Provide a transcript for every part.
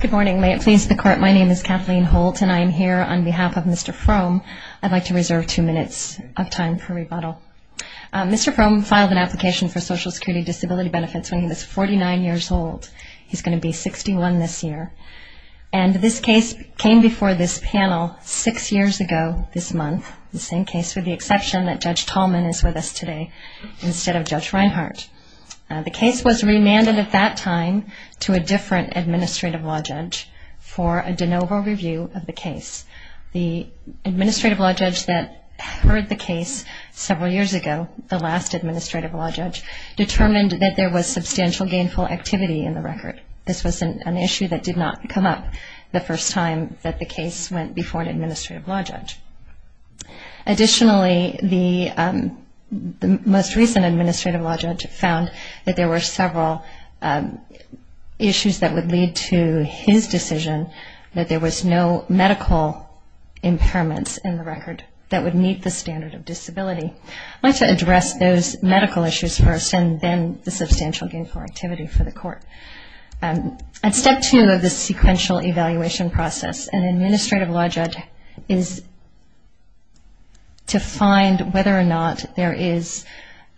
Good morning. May it please the Court, my name is Kathleen Holt and I am here on behalf of Mr. Frohm. I'd like to reserve two minutes of time for rebuttal. Mr. Frohm filed an application for Social Security Disability Benefits when he was 49 years old. He's going to be 61 this year. And this case came before this panel six years ago this month, the same case with the exception that Judge Tallman is with us today instead of Judge Reinhardt. The case was remanded at that time to a different Administrative Law Judge for a de novo review of the case. The Administrative Law Judge that heard the case several years ago, the last Administrative Law Judge, determined that there was substantial gainful activity in the record. This was an issue that did not come up the first time that the case went before an Administrative Law Judge. Additionally, the most recent Administrative Law Judge found that there were several issues that would lead to his decision that there was no medical impairments in the record that would meet the standard of disability. I'd like to address those medical issues first and then the substantial gainful activity for the Court. At step two of the sequential evaluation process, an Administrative Law Judge is to find whether or not there is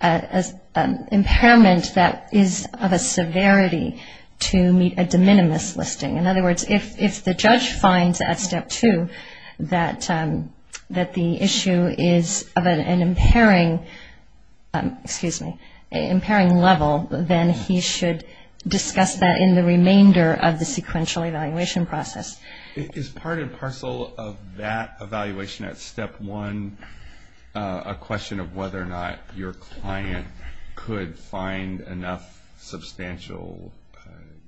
an impairment that is of a severity to meet a de minimis listing. In other words, if the judge finds at step two that the issue is of an impairing level, then he should discuss whether or not there is an impairment. He should discuss that in the remainder of the sequential evaluation process. Is part and parcel of that evaluation at step one a question of whether or not your client could find enough substantial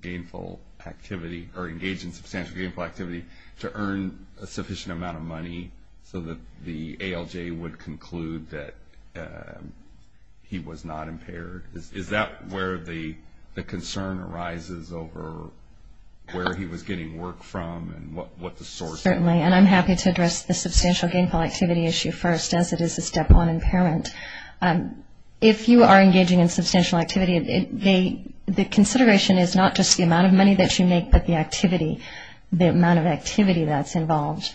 gainful activity or engage in substantial gainful activity to earn a sufficient amount of money so that the ALJ would conclude that he was not impaired? Is that where the concern arises over where he was getting work from and what the source was? Certainly, and I'm happy to address the substantial gainful activity issue first, as it is a step one impairment. If you are engaging in substantial activity, the consideration is not just the amount of money that you make, but the activity, the amount of activity that's involved.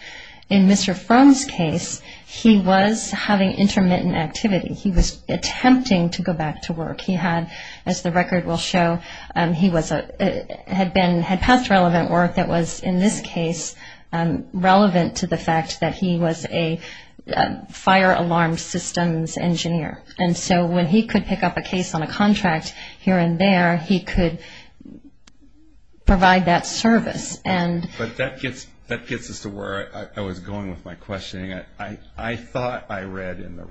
In Mr. Fromm's case, he was having intermittent activity. He was attempting to go back to work. He had, as the record will show, he had passed relevant work that was, in this case, relevant to the fact that he was a fire alarm systems engineer. And so when he could pick up a case on a contract here and there, he could provide that service. But that gets us to where I was going with my questioning. Were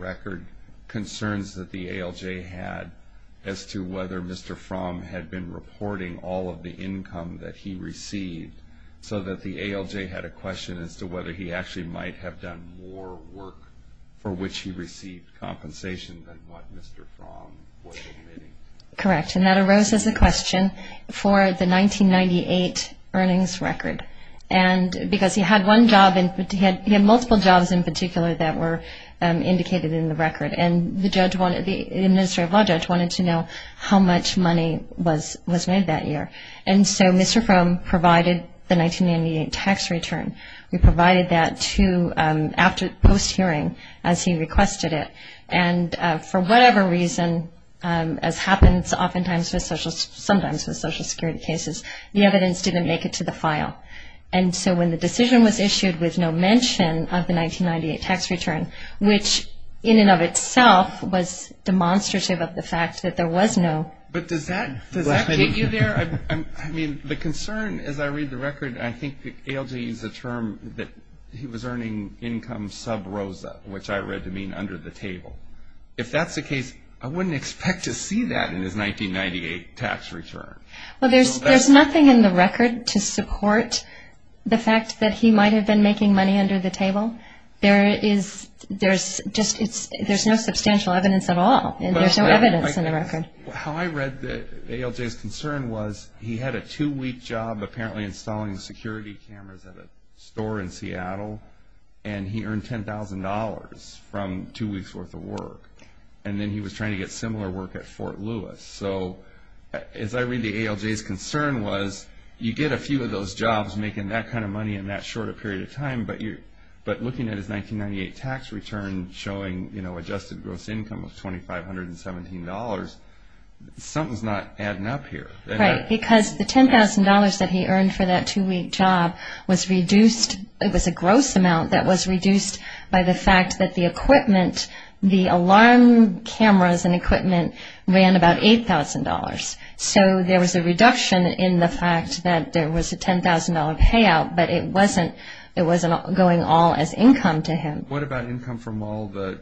there concerns that the ALJ had as to whether Mr. Fromm had been reporting all of the income that he received so that the ALJ had a question as to whether he actually might have done more work for which he received compensation than what Mr. Fromm was admitting? Correct, and that arose as a question for the 1998 earnings record. Because he had one job, he had multiple jobs in particular that were indicated in the record. And the judge, the administrative law judge, wanted to know how much money was made that year. And so Mr. Fromm provided the 1998 tax return. We provided that after post-hearing, as he requested it. And for whatever reason, as happens oftentimes with social security cases, the evidence didn't make it to the file. And so when the decision was issued with no mention of the 1998 tax return, which in and of itself was demonstrative of the fact that there was no... But does that get you there? I mean, the concern, as I read the record, I think the ALJ used the term that he was earning income sub rosa, which I read to mean under the table. If that's the case, I wouldn't expect to see that in his 1998 tax return. Well, there's nothing in the record to support the fact that he might have been making money under the table. There's no substantial evidence at all. There's no evidence in the record. How I read the ALJ's concern was he had a two-week job apparently installing security cameras at a store in Seattle, and he earned $10,000 from two weeks' worth of work. And then he was trying to get similar work at Fort Lewis. So as I read the ALJ's concern was you get a few of those jobs making that kind of money in that short a period of time. But looking at his 1998 tax return showing adjusted gross income of $2,517, something's not adding up here. Right, because the $10,000 that he earned for that two-week job was reduced... It was a gross amount that was reduced by the fact that the equipment, the alarm cameras and equipment, ran about $8,000. So there was a reduction in the fact that there was a $10,000 payout. But it wasn't going all as income to him. What about income from all the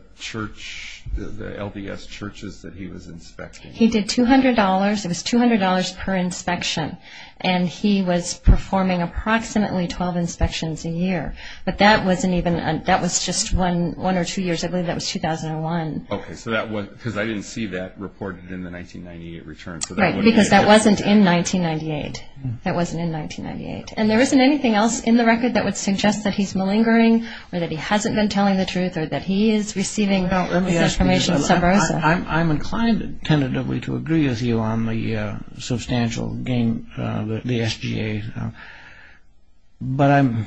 LDS churches that he was inspecting? He did $200. It was $200 per inspection, and he was performing approximately 12 inspections a year. But that was just one or two years. I believe that was 2001. Okay, because I didn't see that reported in the 1998 return. Right, because that wasn't in 1998. And there isn't anything else in the record that would suggest that he's malingering or that he hasn't been telling the truth or that he is receiving information. I'm inclined, tentatively, to agree with you on the substantial gain of the SGA. But I'm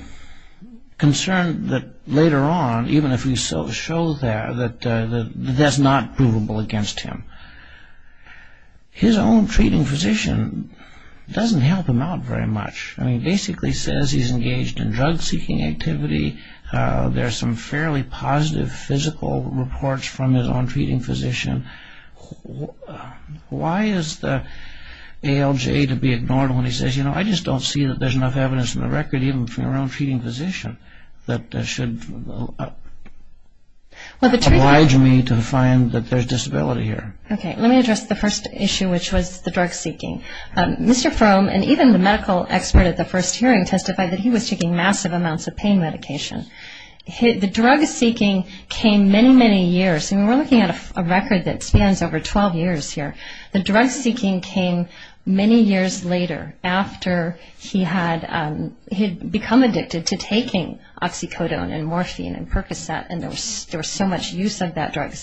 concerned that later on, even if we show that, that that's not provable against him. His own treating physician doesn't help him out very much. He basically says he's engaged in drug-seeking activity. There are some fairly positive physical reports from his own treating physician. Why is the ALJ to be ignored when he says, you know, I just don't see that there's enough evidence in the record, even from your own treating physician, that should oblige me to find that there's disability here? Okay, let me address the first issue, which was the drug-seeking. Mr. Fromm, and even the medical expert at the first hearing, testified that he was taking massive amounts of pain medication. The drug-seeking came many, many years, and we're looking at a record that spans over 12 years here. The drug-seeking came many years later, after he had become addicted to taking oxycodone and morphine and Percocet, and there was so much use of that drug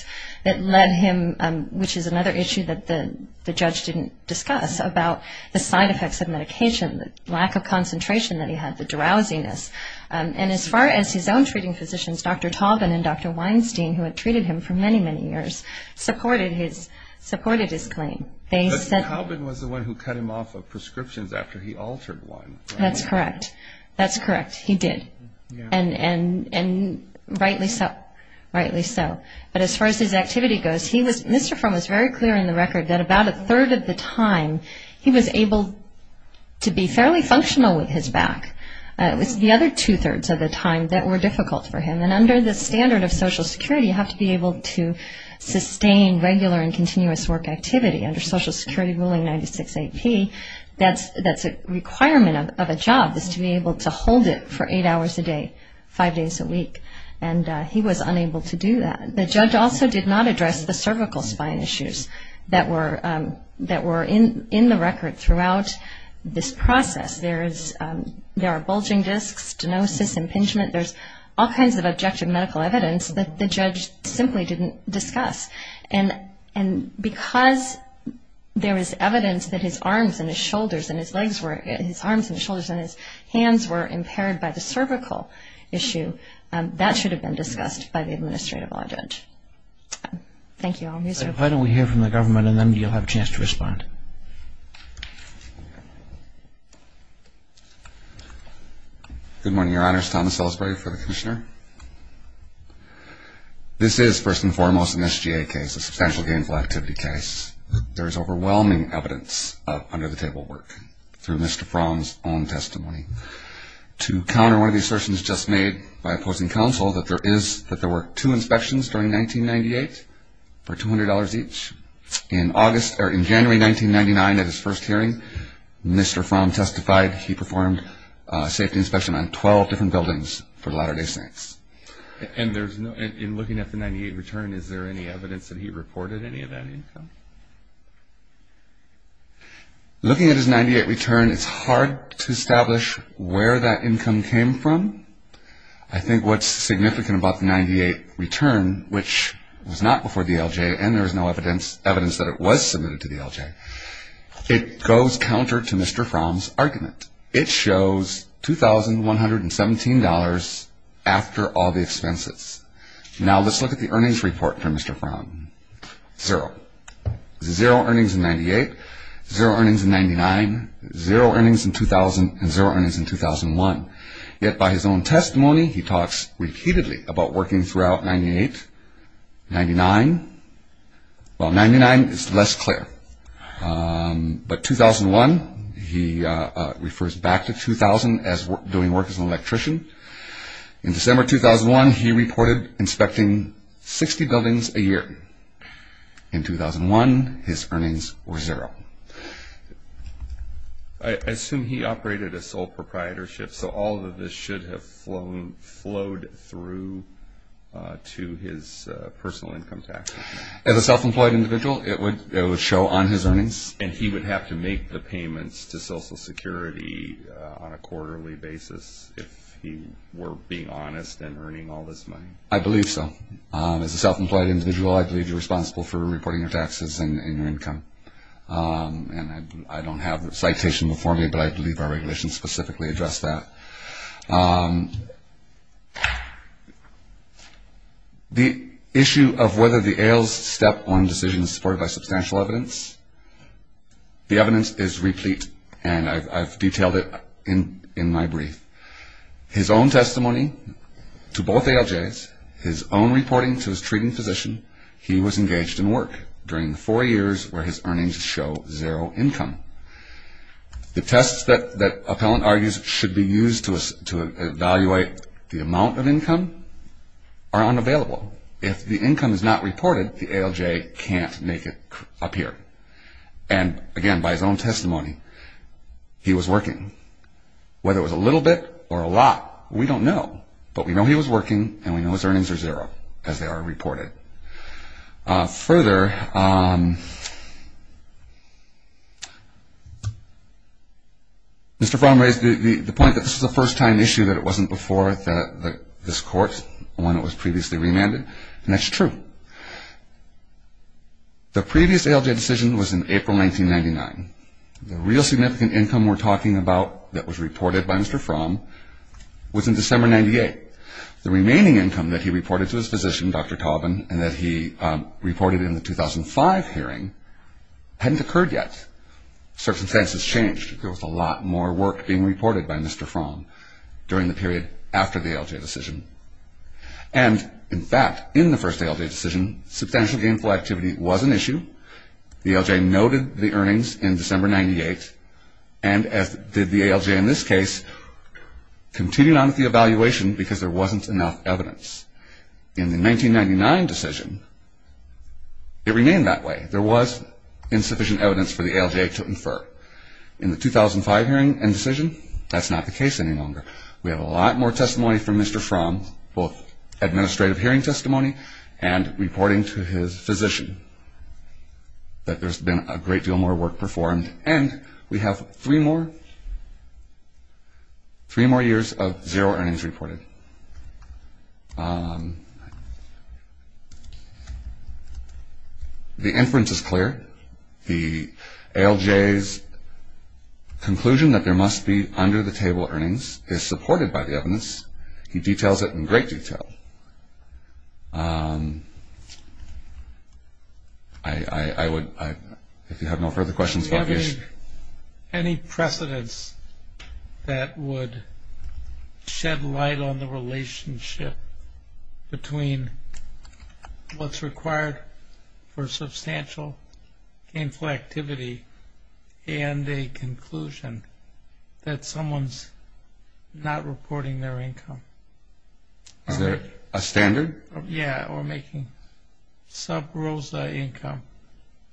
that led him, which is another issue that the judge didn't discuss, about the side effects of medication, the lack of concentration that he had, the drowsiness. And as far as his own treating physicians, Dr. Tauben and Dr. Weinstein, who had treated him for many, many years, supported his claim. But Tauben was the one who cut him off of prescriptions after he altered one. That's correct. That's correct. He did. And rightly so. But as far as his activity goes, Mr. Fromm was very clear in the record that about a third of the time, he was able to be fairly functional with his back. There were another two-thirds of the time that were difficult for him, and under the standard of Social Security, you have to be able to sustain regular and continuous work activity. Under Social Security ruling 96AP, that's a requirement of a job, is to be able to hold it for eight hours a day, five days a week, and he was unable to do that. The judge also did not address the cervical spine issues that were in the record throughout this process. There are bulging discs, stenosis, impingement, there's all kinds of objective medical evidence that the judge simply didn't discuss. And because there is evidence that his arms and his shoulders and his hands were impaired by the cervical issue, that should have been discussed by the administrative law judge. Thank you. Good morning, Your Honors. Thomas Ellsbury for the Commissioner. This is, first and foremost, an SGA case, a substantial gainful activity case. There is overwhelming evidence of under-the-table work through Mr. Fromm's own testimony. To counter one of the assertions just made by opposing counsel, that there were two inspections during 1998 for $200 each, in August or in January 1999 at his first hearing, Mr. Fromm testified that there were two inspections. He performed a safety inspection on 12 different buildings for the latter day saints. And in looking at the 1998 return, is there any evidence that he reported any of that income? Looking at his 1998 return, it's hard to establish where that income came from. I think what's significant about the 1998 return, which was not before DLJ and there was no evidence that it was submitted to DLJ, it goes counter to Mr. Fromm's argument. It shows $2,117 after all the expenses. Now let's look at the earnings report for Mr. Fromm. Zero. Zero earnings in 1998, zero earnings in 1999, zero earnings in 2000, and zero earnings in 2001. Yet by his own testimony, he talks repeatedly about working throughout 1998, 1999. Well, 1999 is less clear. But 2001, he refers back to 2000 as doing work as an electrician. In December 2001, he reported inspecting 60 buildings a year. In 2001, his earnings were zero. I assume he operated a sole proprietorship, so all of this should have flowed through to his personal income taxes. As a self-employed individual, it would show on his earnings. And he would have to make the payments to Social Security on a quarterly basis if he were being honest and earning all this money? I believe so. As a self-employed individual, I believe you're responsible for reporting your taxes and your income. And I don't have the citation before me, but I believe our regulations specifically address that. The issue of whether the ALJ's step one decision is supported by substantial evidence. The evidence is replete, and I've detailed it in my brief. His own testimony to both ALJs, his own reporting to his treating physician, he was engaged in work. During the four years where his earnings show zero income. The tests that Appellant argues should be used to evaluate the amount of income are unavailable. If the income is not reported, the ALJ can't make it appear. And again, by his own testimony, he was working. Whether it was a little bit or a lot, we don't know. But we know he was working, and we know his earnings are zero, as they are reported. Further, Mr. Fromm raised the point that this is a first-time issue, that it wasn't before this Court, the one that was previously remanded. And that's true. The previous ALJ decision was in April 1999. The real significant income we're talking about that was reported by Mr. Fromm was in December 1998. The remaining income that he reported to his physician, Dr. Tauben, and that he reported in the 2005 hearing, hadn't occurred yet. Circumstances changed. There was a lot more work being reported by Mr. Fromm during the period after the ALJ decision. And, in fact, in the first ALJ decision, substantial gainful activity was an issue. The ALJ noted the earnings in December 1998, and, as did the ALJ in this case, continued on with the evaluation because there wasn't enough evidence. In the 1999 decision, it remained that way. There was insufficient evidence for the ALJ to infer. In the 2005 hearing and decision, that's not the case any longer. We have a lot more testimony from Mr. Fromm, both administrative hearing testimony and reporting to his physician, that there's been a great deal more work performed. And we have three more years of zero earnings reported. The inference is clear. The ALJ's conclusion that there must be under-the-table earnings is supported by the evidence. He details it in great detail. I would, if you have no further questions about the issue. Any precedents that would shed light on the relationship between what's required for substantial gainful activity and a conclusion that someone's not reporting their income? Is there a standard? Yeah, or making sub-ROSA income.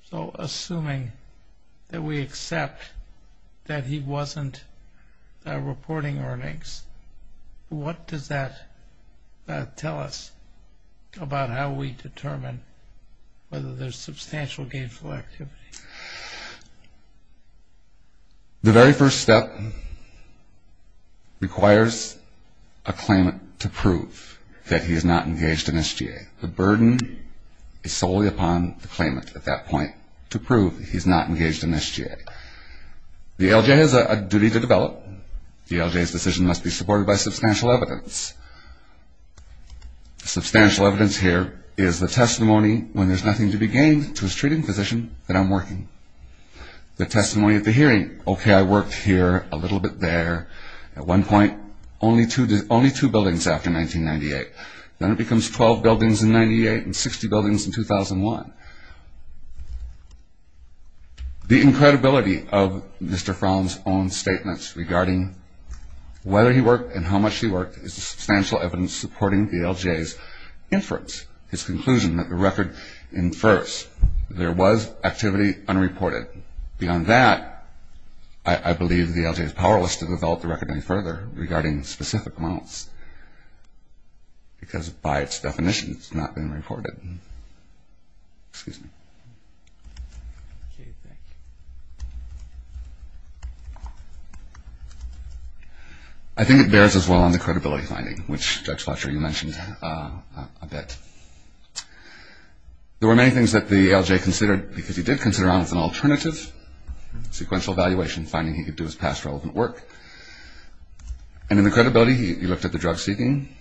So assuming that we accept that he wasn't reporting earnings, what does that tell us about how we determine whether there's substantial gainful activity? The very first step requires a claimant to prove that he is not engaged in SGA. The burden is solely upon the claimant at that point to prove he's not engaged in SGA. The ALJ has a duty to develop. The ALJ's decision must be supported by substantial evidence. Substantial evidence here is the testimony when there's nothing to be gained to his treating physician that I'm working. The testimony at the hearing, okay, I worked here a little bit there. At one point, only two buildings after 1998. Then it becomes 12 buildings in 98 and 60 buildings in 2001. The incredibility of Mr. Fromm's own statements regarding whether he worked and how much he worked is the substantial evidence supporting the ALJ's inference, his conclusion that the record infers there was activity unreported. Beyond that, I believe the ALJ is powerless to develop the record any further regarding specific amounts because by its definition it's not been reported. Excuse me. I think it bears as well on the credibility finding, which Judge Fletcher, you mentioned a bit. There were many things that the ALJ considered because he did consider it as an alternative. Sequential evaluation, finding he could do his past relevant work. And in the credibility, he looked at the drug seeking.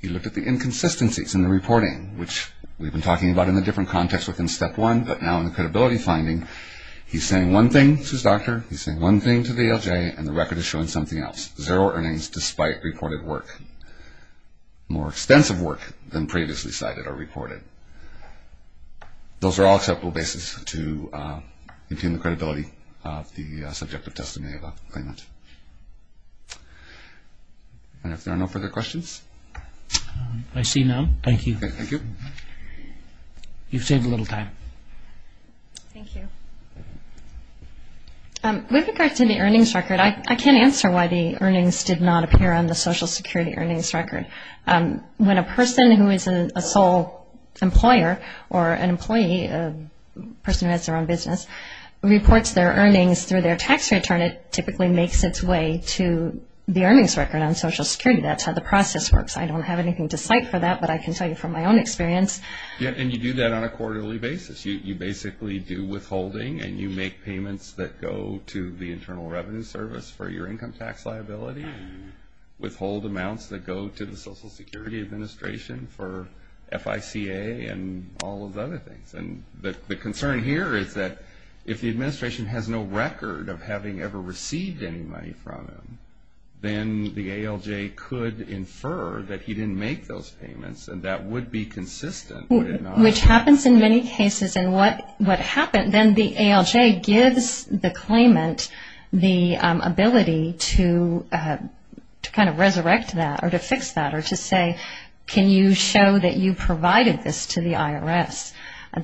He looked at the inconsistencies in the reporting, which we've been talking about in the different contexts within step one. But now in the credibility finding, he's saying one thing to his doctor. He's saying one thing to the ALJ, and the record is showing something else. Zero earnings despite reported work, more extensive work than previously cited or reported. Those are all acceptable bases to obtain the credibility of the subjective testimony of a claimant. And if there are no further questions. I see none. Thank you. Thank you. You've saved a little time. Thank you. With regards to the earnings record, I can't answer why the earnings did not appear on the Social Security earnings record. When a person who is a sole employer or an employee, a person who has their own business, reports their earnings through their tax return, it typically makes its way to the earnings record on Social Security. That's how the process works. I don't have anything to cite for that, but I can tell you from my own experience. Yeah, and you do that on a quarterly basis. You basically do withholding, and you make payments that go to the Internal Revenue Service for your income tax liability and withhold amounts that go to the Social Security Administration for FICA and all of the other things. And the concern here is that if the administration has no record of having ever received any money from him, then the ALJ could infer that he didn't make those payments, and that would be consistent. Which happens in many cases. And what happened, then the ALJ gives the claimant the ability to kind of resurrect that or to fix that or to say, can you show that you provided this to the IRS?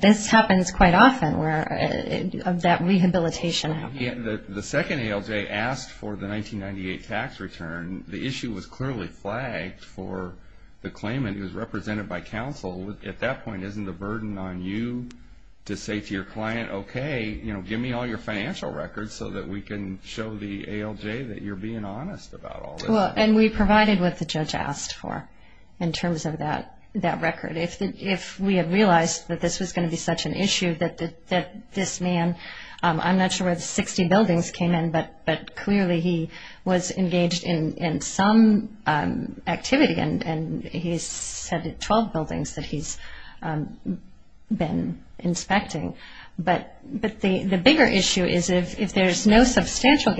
This happens quite often where that rehabilitation happens. The second ALJ asked for the 1998 tax return, the issue was clearly flagged for the claimant who was represented by counsel. At that point, isn't the burden on you to say to your client, okay, give me all your financial records so that we can show the ALJ that you're being honest about all this? Well, and we provided what the judge asked for in terms of that record. If we had realized that this was going to be such an issue, that this man, I'm not sure where the 60 buildings came in, but clearly he was engaged in some activity, and he said 12 buildings that he's been inspecting. But the bigger issue is if there's no substantial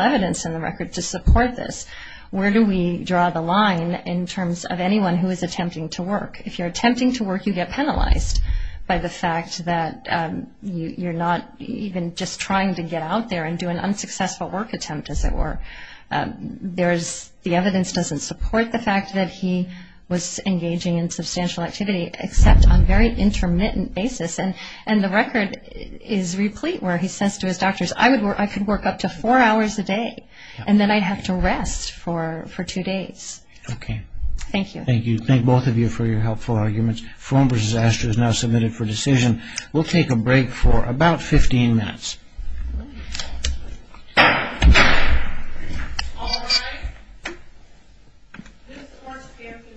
evidence in the record to support this, where do we draw the line in terms of anyone who is attempting to work? If you're attempting to work, you get penalized by the fact that you're not even just trying to get out there and do an unsuccessful work attempt, as it were. The evidence doesn't support the fact that he was engaging in substantial activity, except on very intermittent basis. And the record is replete where he says to his doctors, I could work up to four hours a day, and then I'd have to rest for two days. Okay. Thank you. Thank you. Thank both of you for your helpful arguments. Frome v. Astor is now submitted for decision. We'll take a break for about 15 minutes.